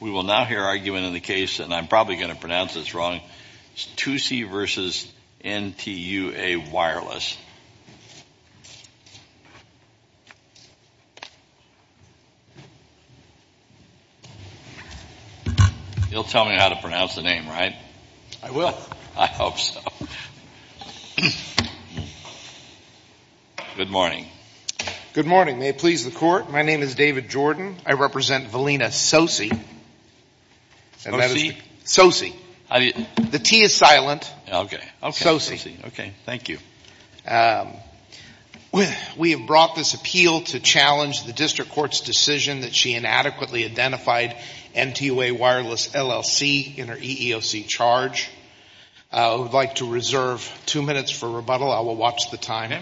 We will now hear argument in the case, and I'm probably going to pronounce this wrong, Tsosie v. N.T.U.A. Wireless. You'll tell me how to pronounce the name, right? I will. I hope so. Good morning. Good morning. May it please the Court, my name is David Jordan. I represent Valina Tsosie. Tsosie? Tsosie. The T is silent. Okay. Tsosie. Okay, thank you. We have brought this appeal to challenge the District Court's decision that she inadequately identified N.T.U.A. Wireless LLC in her EEOC charge. I would like to reserve two minutes for rebuttal. I will watch the time.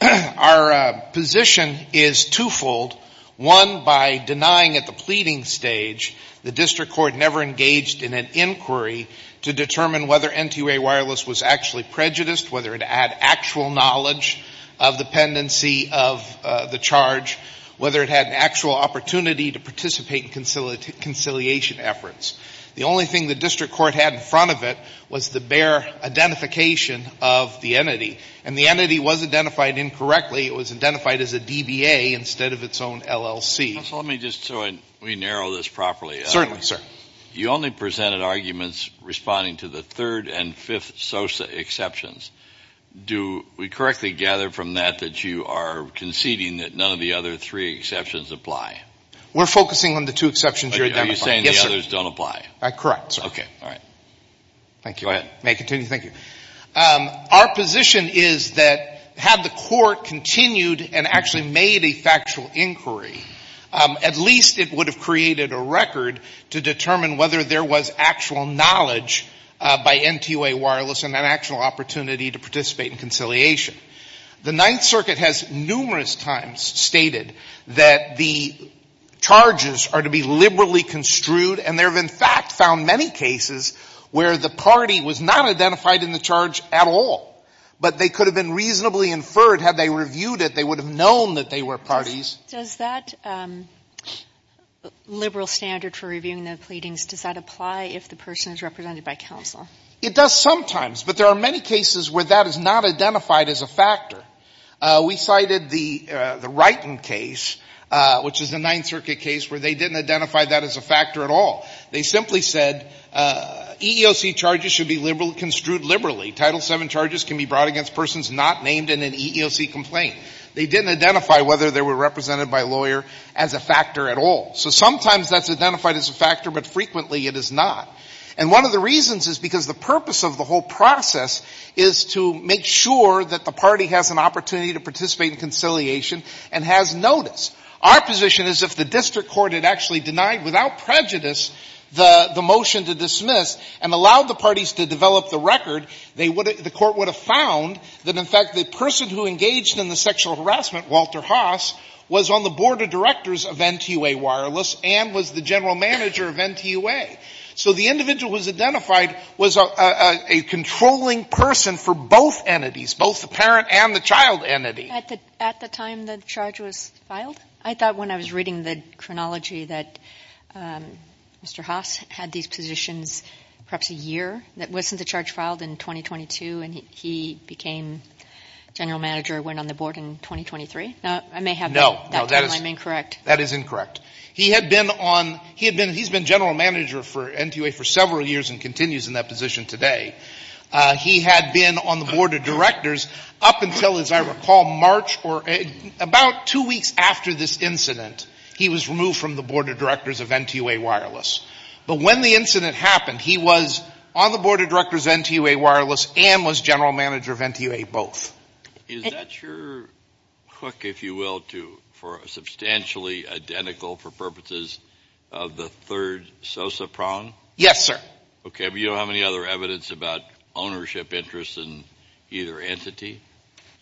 Our position is twofold. One, by denying at the pleading stage, the District Court never engaged in an inquiry to determine whether N.T.U.A. Wireless was actually prejudiced, whether it had actual knowledge of the pendency of the charge, whether it had an actual opportunity to participate in conciliation efforts. The only thing the District Court had in front of it was the bare identification of the entity, and the entity was identified incorrectly. It was identified as a DBA instead of its own LLC. Counsel, let me just, so we narrow this properly. Certainly, sir. You only presented arguments responding to the third and fifth Tsosie exceptions. Do we correctly gather from that that you are conceding that none of the other three exceptions apply? We're focusing on the two exceptions you're identifying. You're saying the others don't apply. Correct, sir. Okay. All right. Thank you. May I continue? Thank you. Our position is that had the court continued and actually made a factual inquiry, at least it would have created a record to determine whether there was actual knowledge by N.T.U.A. Wireless and an actual opportunity to participate in conciliation. The Ninth Circuit has numerous times stated that the charges are to be liberally construed. And there have, in fact, found many cases where the party was not identified in the charge at all. But they could have been reasonably inferred had they reviewed it. They would have known that they were parties. Does that liberal standard for reviewing the pleadings, does that apply if the person is represented by counsel? It does sometimes. But there are many cases where that is not identified as a factor. We cited the Wrighton case, which is a Ninth Circuit case, where they didn't identify that as a factor at all. They simply said EEOC charges should be construed liberally. Title VII charges can be brought against persons not named in an EEOC complaint. They didn't identify whether they were represented by a lawyer as a factor at all. So sometimes that's identified as a factor, but frequently it is not. And one of the reasons is because the purpose of the whole process is to make sure that the party has an opportunity to participate in conciliation and has notice. Our position is if the district court had actually denied without prejudice the motion to dismiss and allowed the parties to develop the record, the court would have found that, in fact, the person who engaged in the sexual harassment, Walter Haas, was on the board of directors of NTUA Wireless and was the general manager of NTUA. So the individual who was identified was a controlling person for both entities, both the parent and the child entity. At the time the charge was filed? I thought when I was reading the chronology that Mr. Haas had these positions perhaps a year. Wasn't the charge filed in 2022 and he became general manager and went on the board in 2023? I may have that timeline incorrect. No, that is incorrect. He's been general manager for NTUA for several years and continues in that position today. He had been on the board of directors up until, as I recall, March or about two weeks after this incident, he was removed from the board of directors of NTUA Wireless. But when the incident happened, he was on the board of directors of NTUA Wireless and was general manager of NTUA, both. Is that your hook, if you will, for substantially identical for purposes of the third SOSA prong? Yes, sir. Okay, but you don't have any other evidence about ownership interests in either entity?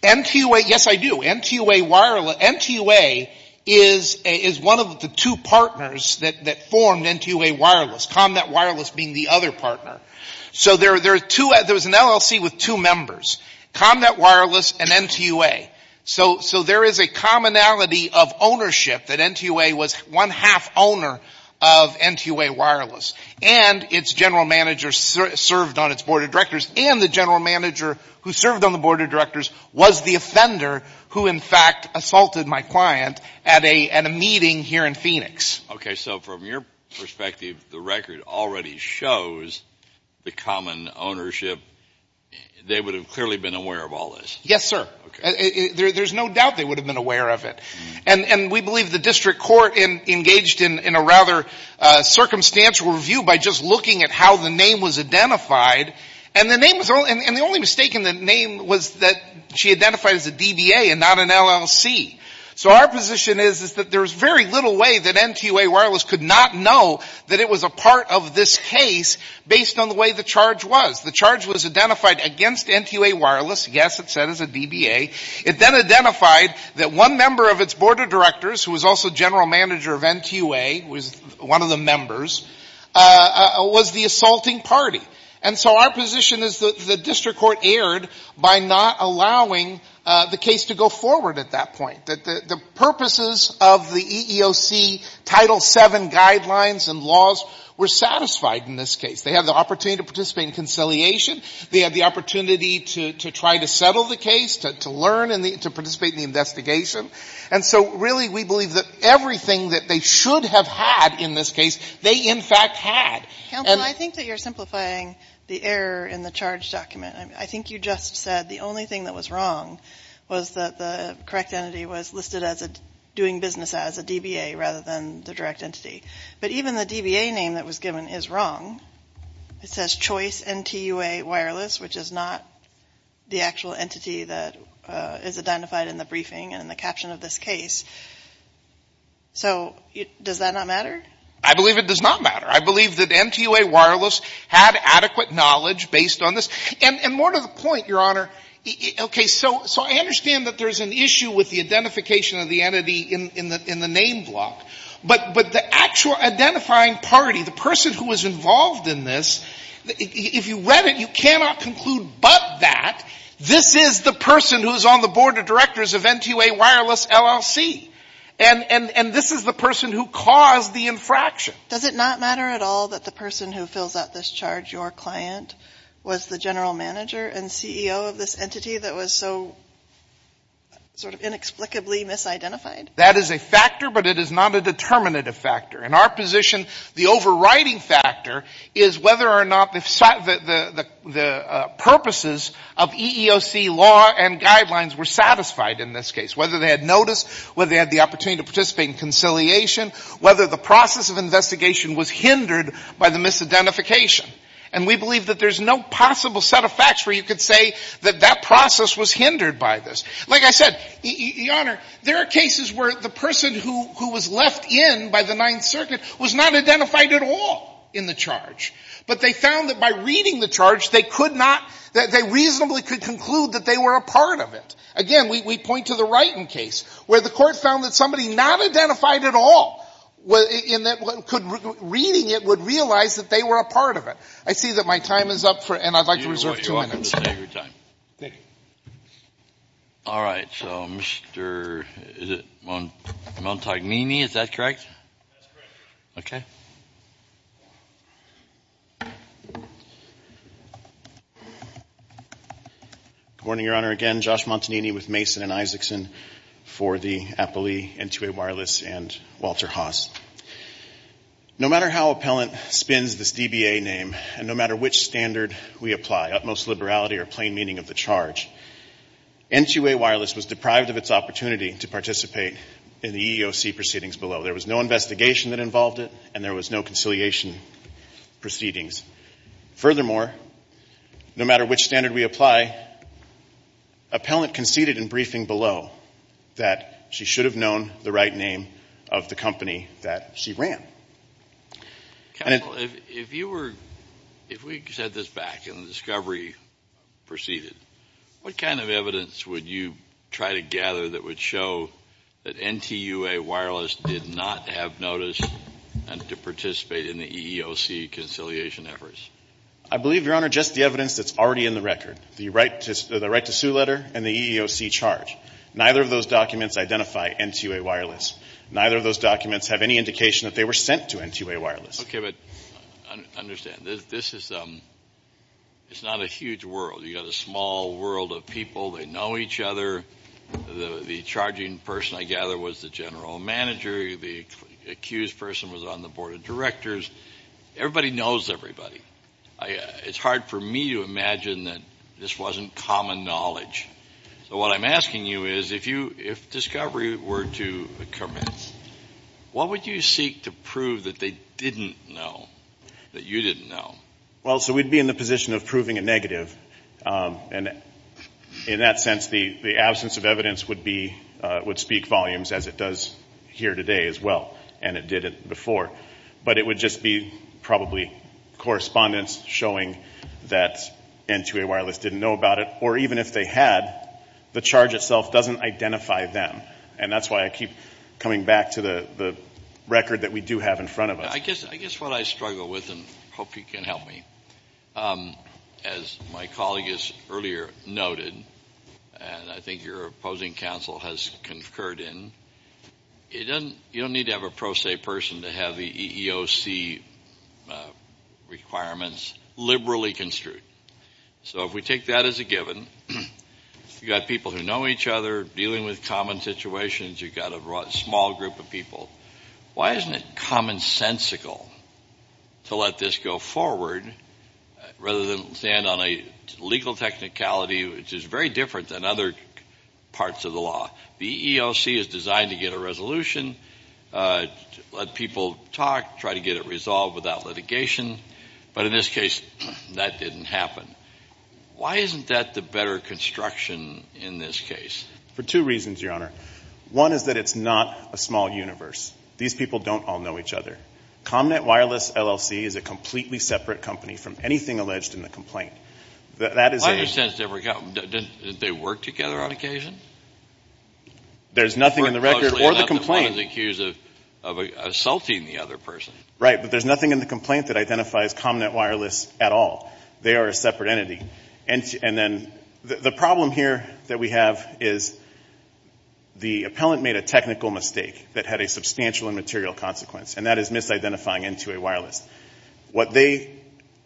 NTUA, yes, I do. NTUA is one of the two partners that formed NTUA Wireless, ComNet Wireless being the other partner. So there was an LLC with two members. ComNet Wireless and NTUA. So there is a commonality of ownership that NTUA was one-half owner of NTUA Wireless. And its general manager served on its board of directors. And the general manager who served on the board of directors was the offender who, in fact, assaulted my client at a meeting here in Phoenix. Okay, so from your perspective, the record already shows the common ownership. They would have clearly been aware of all this. Yes, sir. There is no doubt they would have been aware of it. And we believe the district court engaged in a rather circumstantial review by just looking at how the name was identified. And the only mistake in the name was that she identified as a DBA and not an LLC. So our position is that there is very little way that NTUA Wireless could not know that it was a part of this case based on the way the charge was. The charge was identified against NTUA Wireless. Yes, it said it was a DBA. It then identified that one member of its board of directors, who was also general manager of NTUA, was one of the members, was the assaulting party. And so our position is that the district court erred by not allowing the case to go forward at that point. The purposes of the EEOC Title VII guidelines and laws were satisfied in this case. They had the opportunity to participate in conciliation. They had the opportunity to try to settle the case, to learn and to participate in the investigation. And so really we believe that everything that they should have had in this case, they in fact had. Counsel, I think that you're simplifying the error in the charge document. I think you just said the only thing that was wrong was that the correct entity was listed as doing business as a DBA rather than the direct entity. But even the DBA name that was given is wrong. It says Choice NTUA Wireless, which is not the actual entity that is identified in the briefing and in the caption of this case. So does that not matter? I believe it does not matter. I believe that NTUA Wireless had adequate knowledge based on this. And more to the point, Your Honor, okay, so I understand that there's an issue with the identification of the entity in the name block. But the actual identifying party, the person who was involved in this, if you read it, you cannot conclude but that this is the person who is on the board of directors of NTUA Wireless LLC. And this is the person who caused the infraction. Does it not matter at all that the person who fills out this charge, your client, was the general manager and CEO of this entity that was so sort of inexplicably misidentified? That is a factor, but it is not a determinative factor. In our position, the overriding factor is whether or not the purposes of EEOC law and guidelines were satisfied in this case. Whether they had notice, whether they had the opportunity to participate in conciliation, whether the process of investigation was hindered by the misidentification. And we believe that there's no possible set of facts where you could say that that process was hindered by this. Like I said, Your Honor, there are cases where the person who was left in by the Ninth Circuit was not identified at all in the charge. But they found that by reading the charge, they could not — they reasonably could conclude that they were a part of it. Again, we point to the Wrighton case, where the Court found that somebody not identified at all in that reading it would realize that they were a part of it. I see that my time is up, and I'd like to reserve two minutes. Thank you. All right. So Mr. Montagnini, is that correct? That's correct, Your Honor. Good morning, Your Honor. Again, Josh Montagnini with Mason & Isakson for the Appellee, N2A Wireless, and Walter Haas. No matter how Appellant spins this DBA name, and no matter which standard we apply, utmost liberality or plain meaning of the charge, N2A Wireless was deprived of its opportunity to participate in the EEOC proceedings below. There was no investigation that involved it, and there was no conciliation proceedings. Furthermore, no matter which standard we apply, Appellant conceded in briefing below that she should have known the right name of the company that she ran. Counsel, if we said this back and the discovery proceeded, what kind of evidence would you try to gather that would show that N2A Wireless did not have notice and to participate in the EEOC conciliation efforts? I believe, Your Honor, just the evidence that's already in the record, the right-to-sue letter and the EEOC charge. Neither of those documents identify N2A Wireless. Neither of those documents have any indication that they were sent to N2A Wireless. Okay, but understand, this is not a huge world. You've got a small world of people. They know each other. The charging person, I gather, was the general manager. The accused person was on the board of directors. Everybody knows everybody. It's hard for me to imagine that this wasn't common knowledge. So what I'm asking you is, if discovery were to commence, what would you seek to prove that they didn't know, that you didn't know? Well, so we'd be in the position of proving a negative. And in that sense, the absence of evidence would speak volumes, as it does here today as well, and it did before. But it would just be probably correspondence showing that N2A Wireless didn't know about it, or even if they had, the charge itself doesn't identify them. And that's why I keep coming back to the record that we do have in front of us. I guess what I struggle with, and I hope you can help me, as my colleague has earlier noted, and I think your opposing counsel has concurred in, you don't need to have a pro se person to have the EEOC requirements liberally construed. So if we take that as a given, you've got people who know each other, dealing with common situations, you've got a small group of people, why isn't it commonsensical to let this go forward, rather than stand on a legal technicality which is very different than other parts of the law? The EEOC is designed to get a resolution, let people talk, try to get it resolved without litigation. But in this case, that didn't happen. Why isn't that the better construction in this case? For two reasons, Your Honor. One is that it's not a small universe. These people don't all know each other. ComNet Wireless LLC is a completely separate company from anything alleged in the complaint. I understand they work together on occasion? There's nothing in the record or the complaint. Or the person is accused of assaulting the other person. Right, but there's nothing in the complaint that identifies ComNet Wireless at all. They are a separate entity. And then the problem here that we have is the appellant made a technical mistake that had a substantial and material consequence, and that is misidentifying N2A Wireless. What they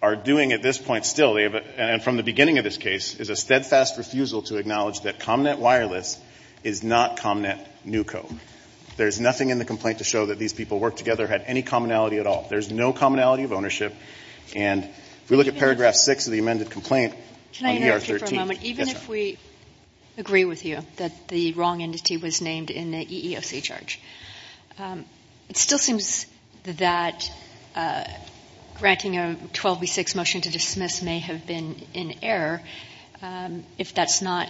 are doing at this point still, and from the beginning of this case, is a steadfast refusal to acknowledge that ComNet Wireless is not ComNet NUCO. There's nothing in the complaint to show that these people worked together, had any commonality at all. There's no commonality of ownership. And if we look at paragraph 6 of the amended complaint on ER 13. Can I interrupt you for a moment? Yes, Your Honor. Even if we agree with you that the wrong entity was named in the EEOC charge, it still seems that granting a 12 v. 6 motion to dismiss may have been in error if that's not,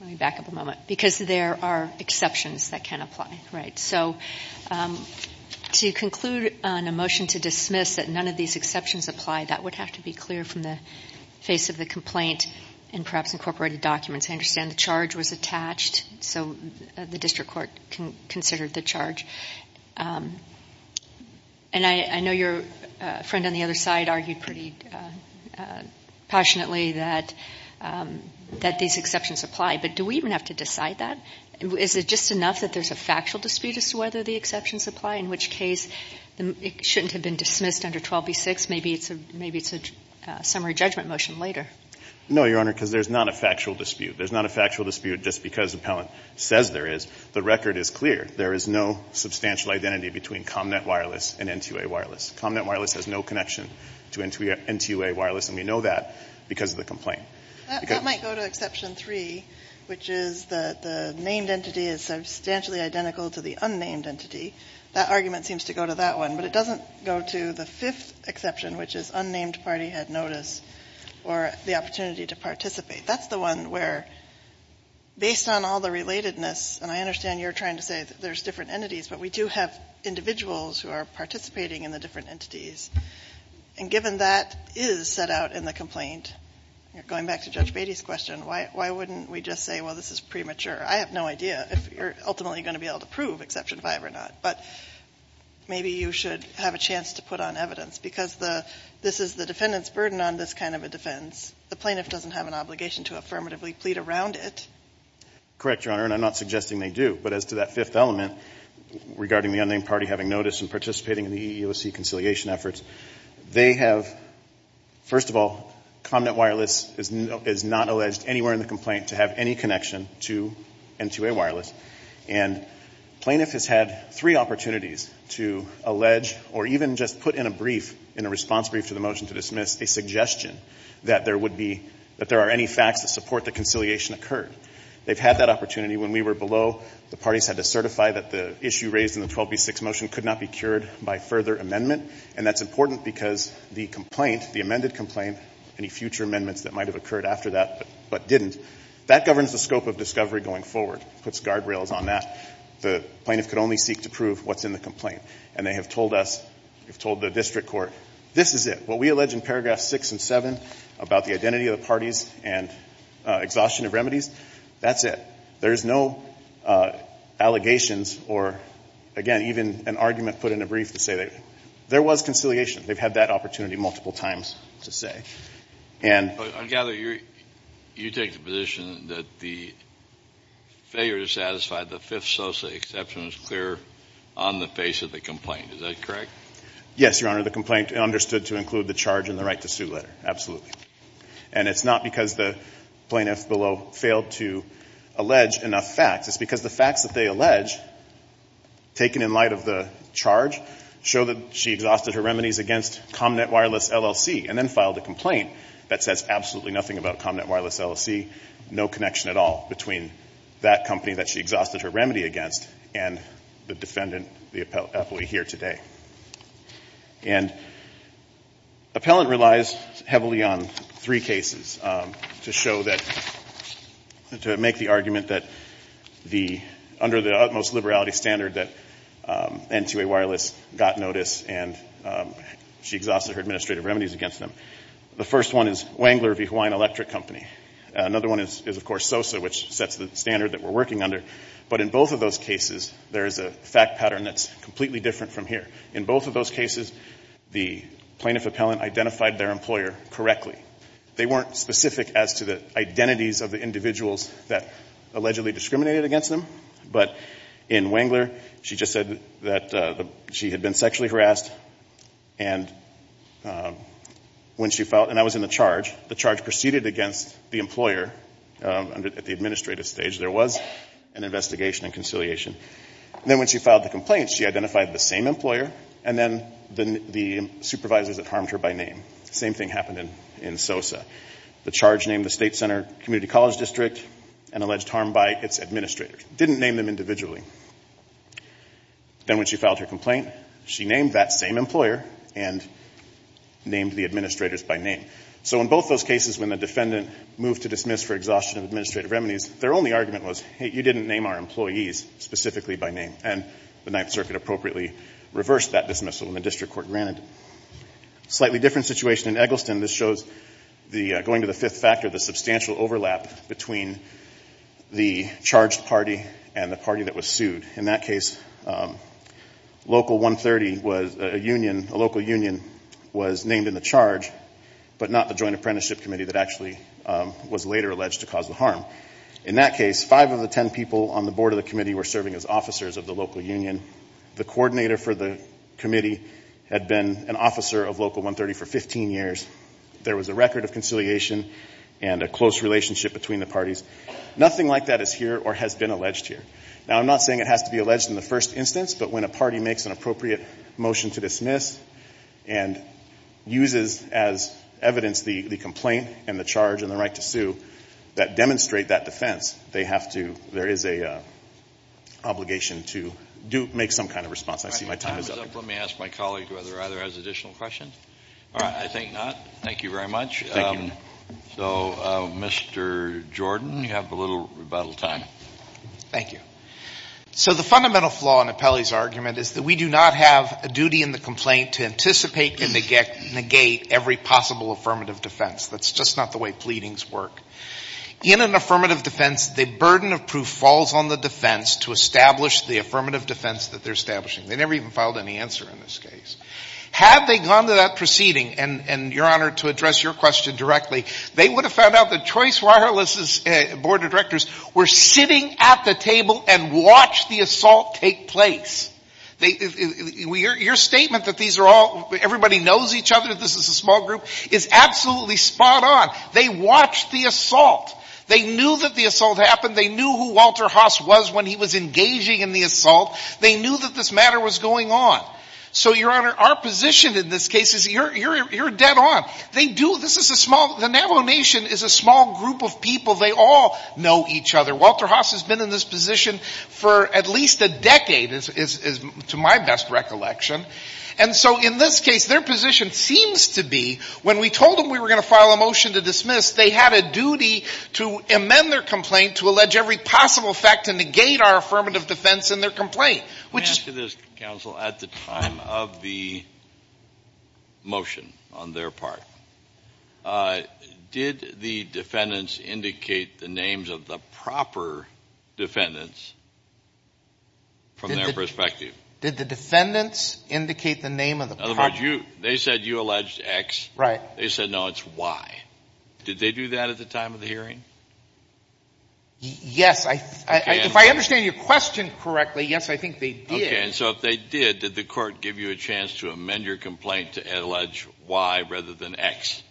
let me back up a moment, because there are exceptions that can apply. Right, so to conclude on a motion to dismiss that none of these exceptions apply, that would have to be clear from the face of the complaint and perhaps incorporated documents. I understand the charge was attached, so the district court considered the charge. And I know your friend on the other side argued pretty passionately that these exceptions apply, but do we even have to decide that? Is it just enough that there's a factual dispute as to whether the exceptions apply, in which case it shouldn't have been dismissed under 12 v. 6? Maybe it's a summary judgment motion later. No, Your Honor, because there's not a factual dispute. There's not a factual dispute just because the appellant says there is. The record is clear. There is no substantial identity between ComNet Wireless and NTUA Wireless. ComNet Wireless has no connection to NTUA Wireless, and we know that because of the complaint. That might go to exception 3, which is the named entity is substantially identical to the unnamed entity. That argument seems to go to that one, but it doesn't go to the fifth exception, which is unnamed party had notice or the opportunity to participate. That's the one where, based on all the relatedness, and I understand you're trying to say that there's different entities, but we do have individuals who are participating in the different entities. And given that is set out in the complaint, going back to Judge Beatty's question, why wouldn't we just say, well, this is premature? I have no idea if you're ultimately going to be able to prove exception 5 or not, but maybe you should have a chance to put on evidence because this is the defendant's burden on this kind of a defense. The plaintiff doesn't have an obligation to affirmatively plead around it. Correct, Your Honor, and I'm not suggesting they do. But as to that fifth element regarding the unnamed party having notice and participating in the EEOC conciliation efforts, they have, first of all, ComNet Wireless is not alleged anywhere in the complaint to have any connection to NTUA Wireless. And plaintiff has had three opportunities to allege or even just put in a brief, in a response brief to the motion to dismiss, a suggestion that there would be, that there are any facts that support the conciliation occurred. They've had that opportunity. When we were below, the parties had to certify that the issue raised in the 12B6 motion could not be cured by further amendment. And that's important because the complaint, the amended complaint, any future amendments that might have occurred after that but didn't, that governs the scope of discovery going forward. It puts guardrails on that. The plaintiff could only seek to prove what's in the complaint. And they have told us, they've told the district court, this is it. What we allege in paragraphs six and seven about the identity of the parties and exhaustion of remedies, that's it. There's no allegations or, again, even an argument put in a brief to say there was conciliation. They've had that opportunity multiple times to say. I gather you take the position that the failure to satisfy the fifth social exception was clear on the face of the complaint. Is that correct? Yes, Your Honor. The complaint understood to include the charge and the right to sue letter. Absolutely. And it's not because the plaintiff below failed to allege enough facts. It's because the facts that they allege, taken in light of the charge, show that she exhausted her remedies against ComNet Wireless LLC and then filed a complaint that says absolutely nothing about ComNet Wireless LLC, no connection at all between that company that she exhausted her remedy against and the defendant, the appellee here today. And appellant relies heavily on three cases to show that, to make the argument that under the utmost liberality standard that N2A Wireless got notice and she exhausted her administrative remedies against them. The first one is Wengler v. Hawaiian Electric Company. Another one is, of course, SOSA, which sets the standard that we're working under. But in both of those cases, there is a fact pattern that's completely different from here. In both of those cases, the plaintiff appellant identified their employer correctly. They weren't specific as to the identities of the individuals that allegedly discriminated against them. But in Wengler, she just said that she had been sexually harassed. And I was in the charge. The charge proceeded against the employer at the administrative stage. There was an investigation and conciliation. Then when she filed the complaint, she identified the same employer and then the supervisors that harmed her by name. The same thing happened in SOSA. The charge named the state center community college district and alleged harm by its administrators. It didn't name them individually. Then when she filed her complaint, she named that same employer and named the administrators by name. So in both those cases, when the defendant moved to dismiss for exhaustion of administrative remedies, their only argument was, hey, you didn't name our employees specifically by name. And the Ninth Circuit appropriately reversed that dismissal when the district court granted it. Slightly different situation in Eggleston. This shows going to the fifth factor, the substantial overlap between the charged party and the party that was sued. In that case, Local 130, a local union, was named in the charge, but not the Joint Apprenticeship Committee that actually was later alleged to cause the harm. In that case, five of the ten people on the board of the committee were serving as officers of the local union. The coordinator for the committee had been an officer of Local 130 for 15 years. There was a record of conciliation and a close relationship between the parties. Nothing like that is here or has been alleged here. Now, I'm not saying it has to be alleged in the first instance, but when a party makes an appropriate motion to dismiss and uses as evidence the complaint and the charge and the right to sue that demonstrate that defense, there is an obligation to make some kind of response. I see my time is up. Let me ask my colleague whether either has additional questions. I think not. Thank you very much. Thank you. So, Mr. Jordan, you have a little rebuttal time. Thank you. So the fundamental flaw in Apelli's argument is that we do not have a duty in the complaint to anticipate and negate every possible affirmative defense. That's just not the way pleadings work. In an affirmative defense, the burden of proof falls on the defense to establish the affirmative defense that they're establishing. They never even filed any answer in this case. Had they gone to that proceeding, and, Your Honor, to address your question directly, they would have found out that Choice Wireless's board of directors were sitting at the table and watched the assault take place. Your statement that everybody knows each other, this is a small group, is absolutely spot on. They watched the assault. They knew that the assault happened. They knew who Walter Haas was when he was engaging in the assault. They knew that this matter was going on. So, Your Honor, our position in this case is you're dead on. They do, this is a small, the Navajo Nation is a small group of people. They all know each other. Walter Haas has been in this position for at least a decade, to my best recollection. And so, in this case, their position seems to be when we told them we were going to file a motion to dismiss, they had a duty to amend their complaint to allege every possible fact and negate our affirmative defense in their complaint. Let me ask you this, counsel. At the time of the motion on their part, did the defendants indicate the names of the proper defendants from their perspective? Did the defendants indicate the name of the proper defendants? In other words, they said you alleged X. Right. They said, no, it's Y. Did they do that at the time of the hearing? Yes. If I understand your question correctly, yes, I think they did. Okay. And so if they did, did the court give you a chance to amend your complaint to allege Y rather than X?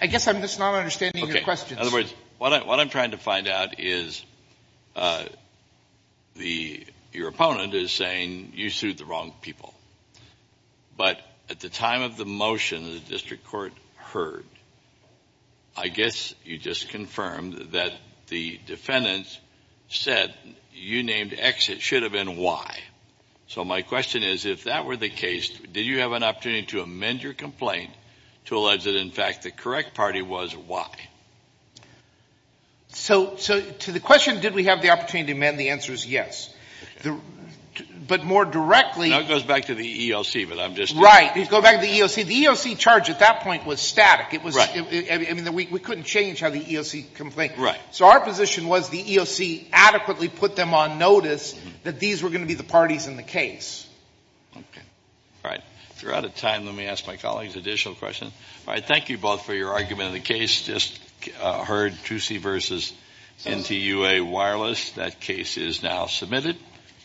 I guess I'm just not understanding your question. In other words, what I'm trying to find out is your opponent is saying you sued the wrong people. But at the time of the motion the district court heard, I guess you just confirmed that the defendants said you named X. It should have been Y. So my question is, if that were the case, did you have an opportunity to amend your complaint to allege that, in fact, the correct party was Y? So to the question, did we have the opportunity to amend, the answer is yes. But more directly – Now it goes back to the EOC, but I'm just – Right. It goes back to the EOC. The EOC charge at that point was static. Right. I mean, we couldn't change how the EOC complained. Right. So our position was the EOC adequately put them on notice that these were going to be the parties in the case. Okay. All right. If we're out of time, let me ask my colleagues additional questions. All right. Thank you both for your argument in the case. Just heard Trucy v. NTUA Wireless. That case is now submitted.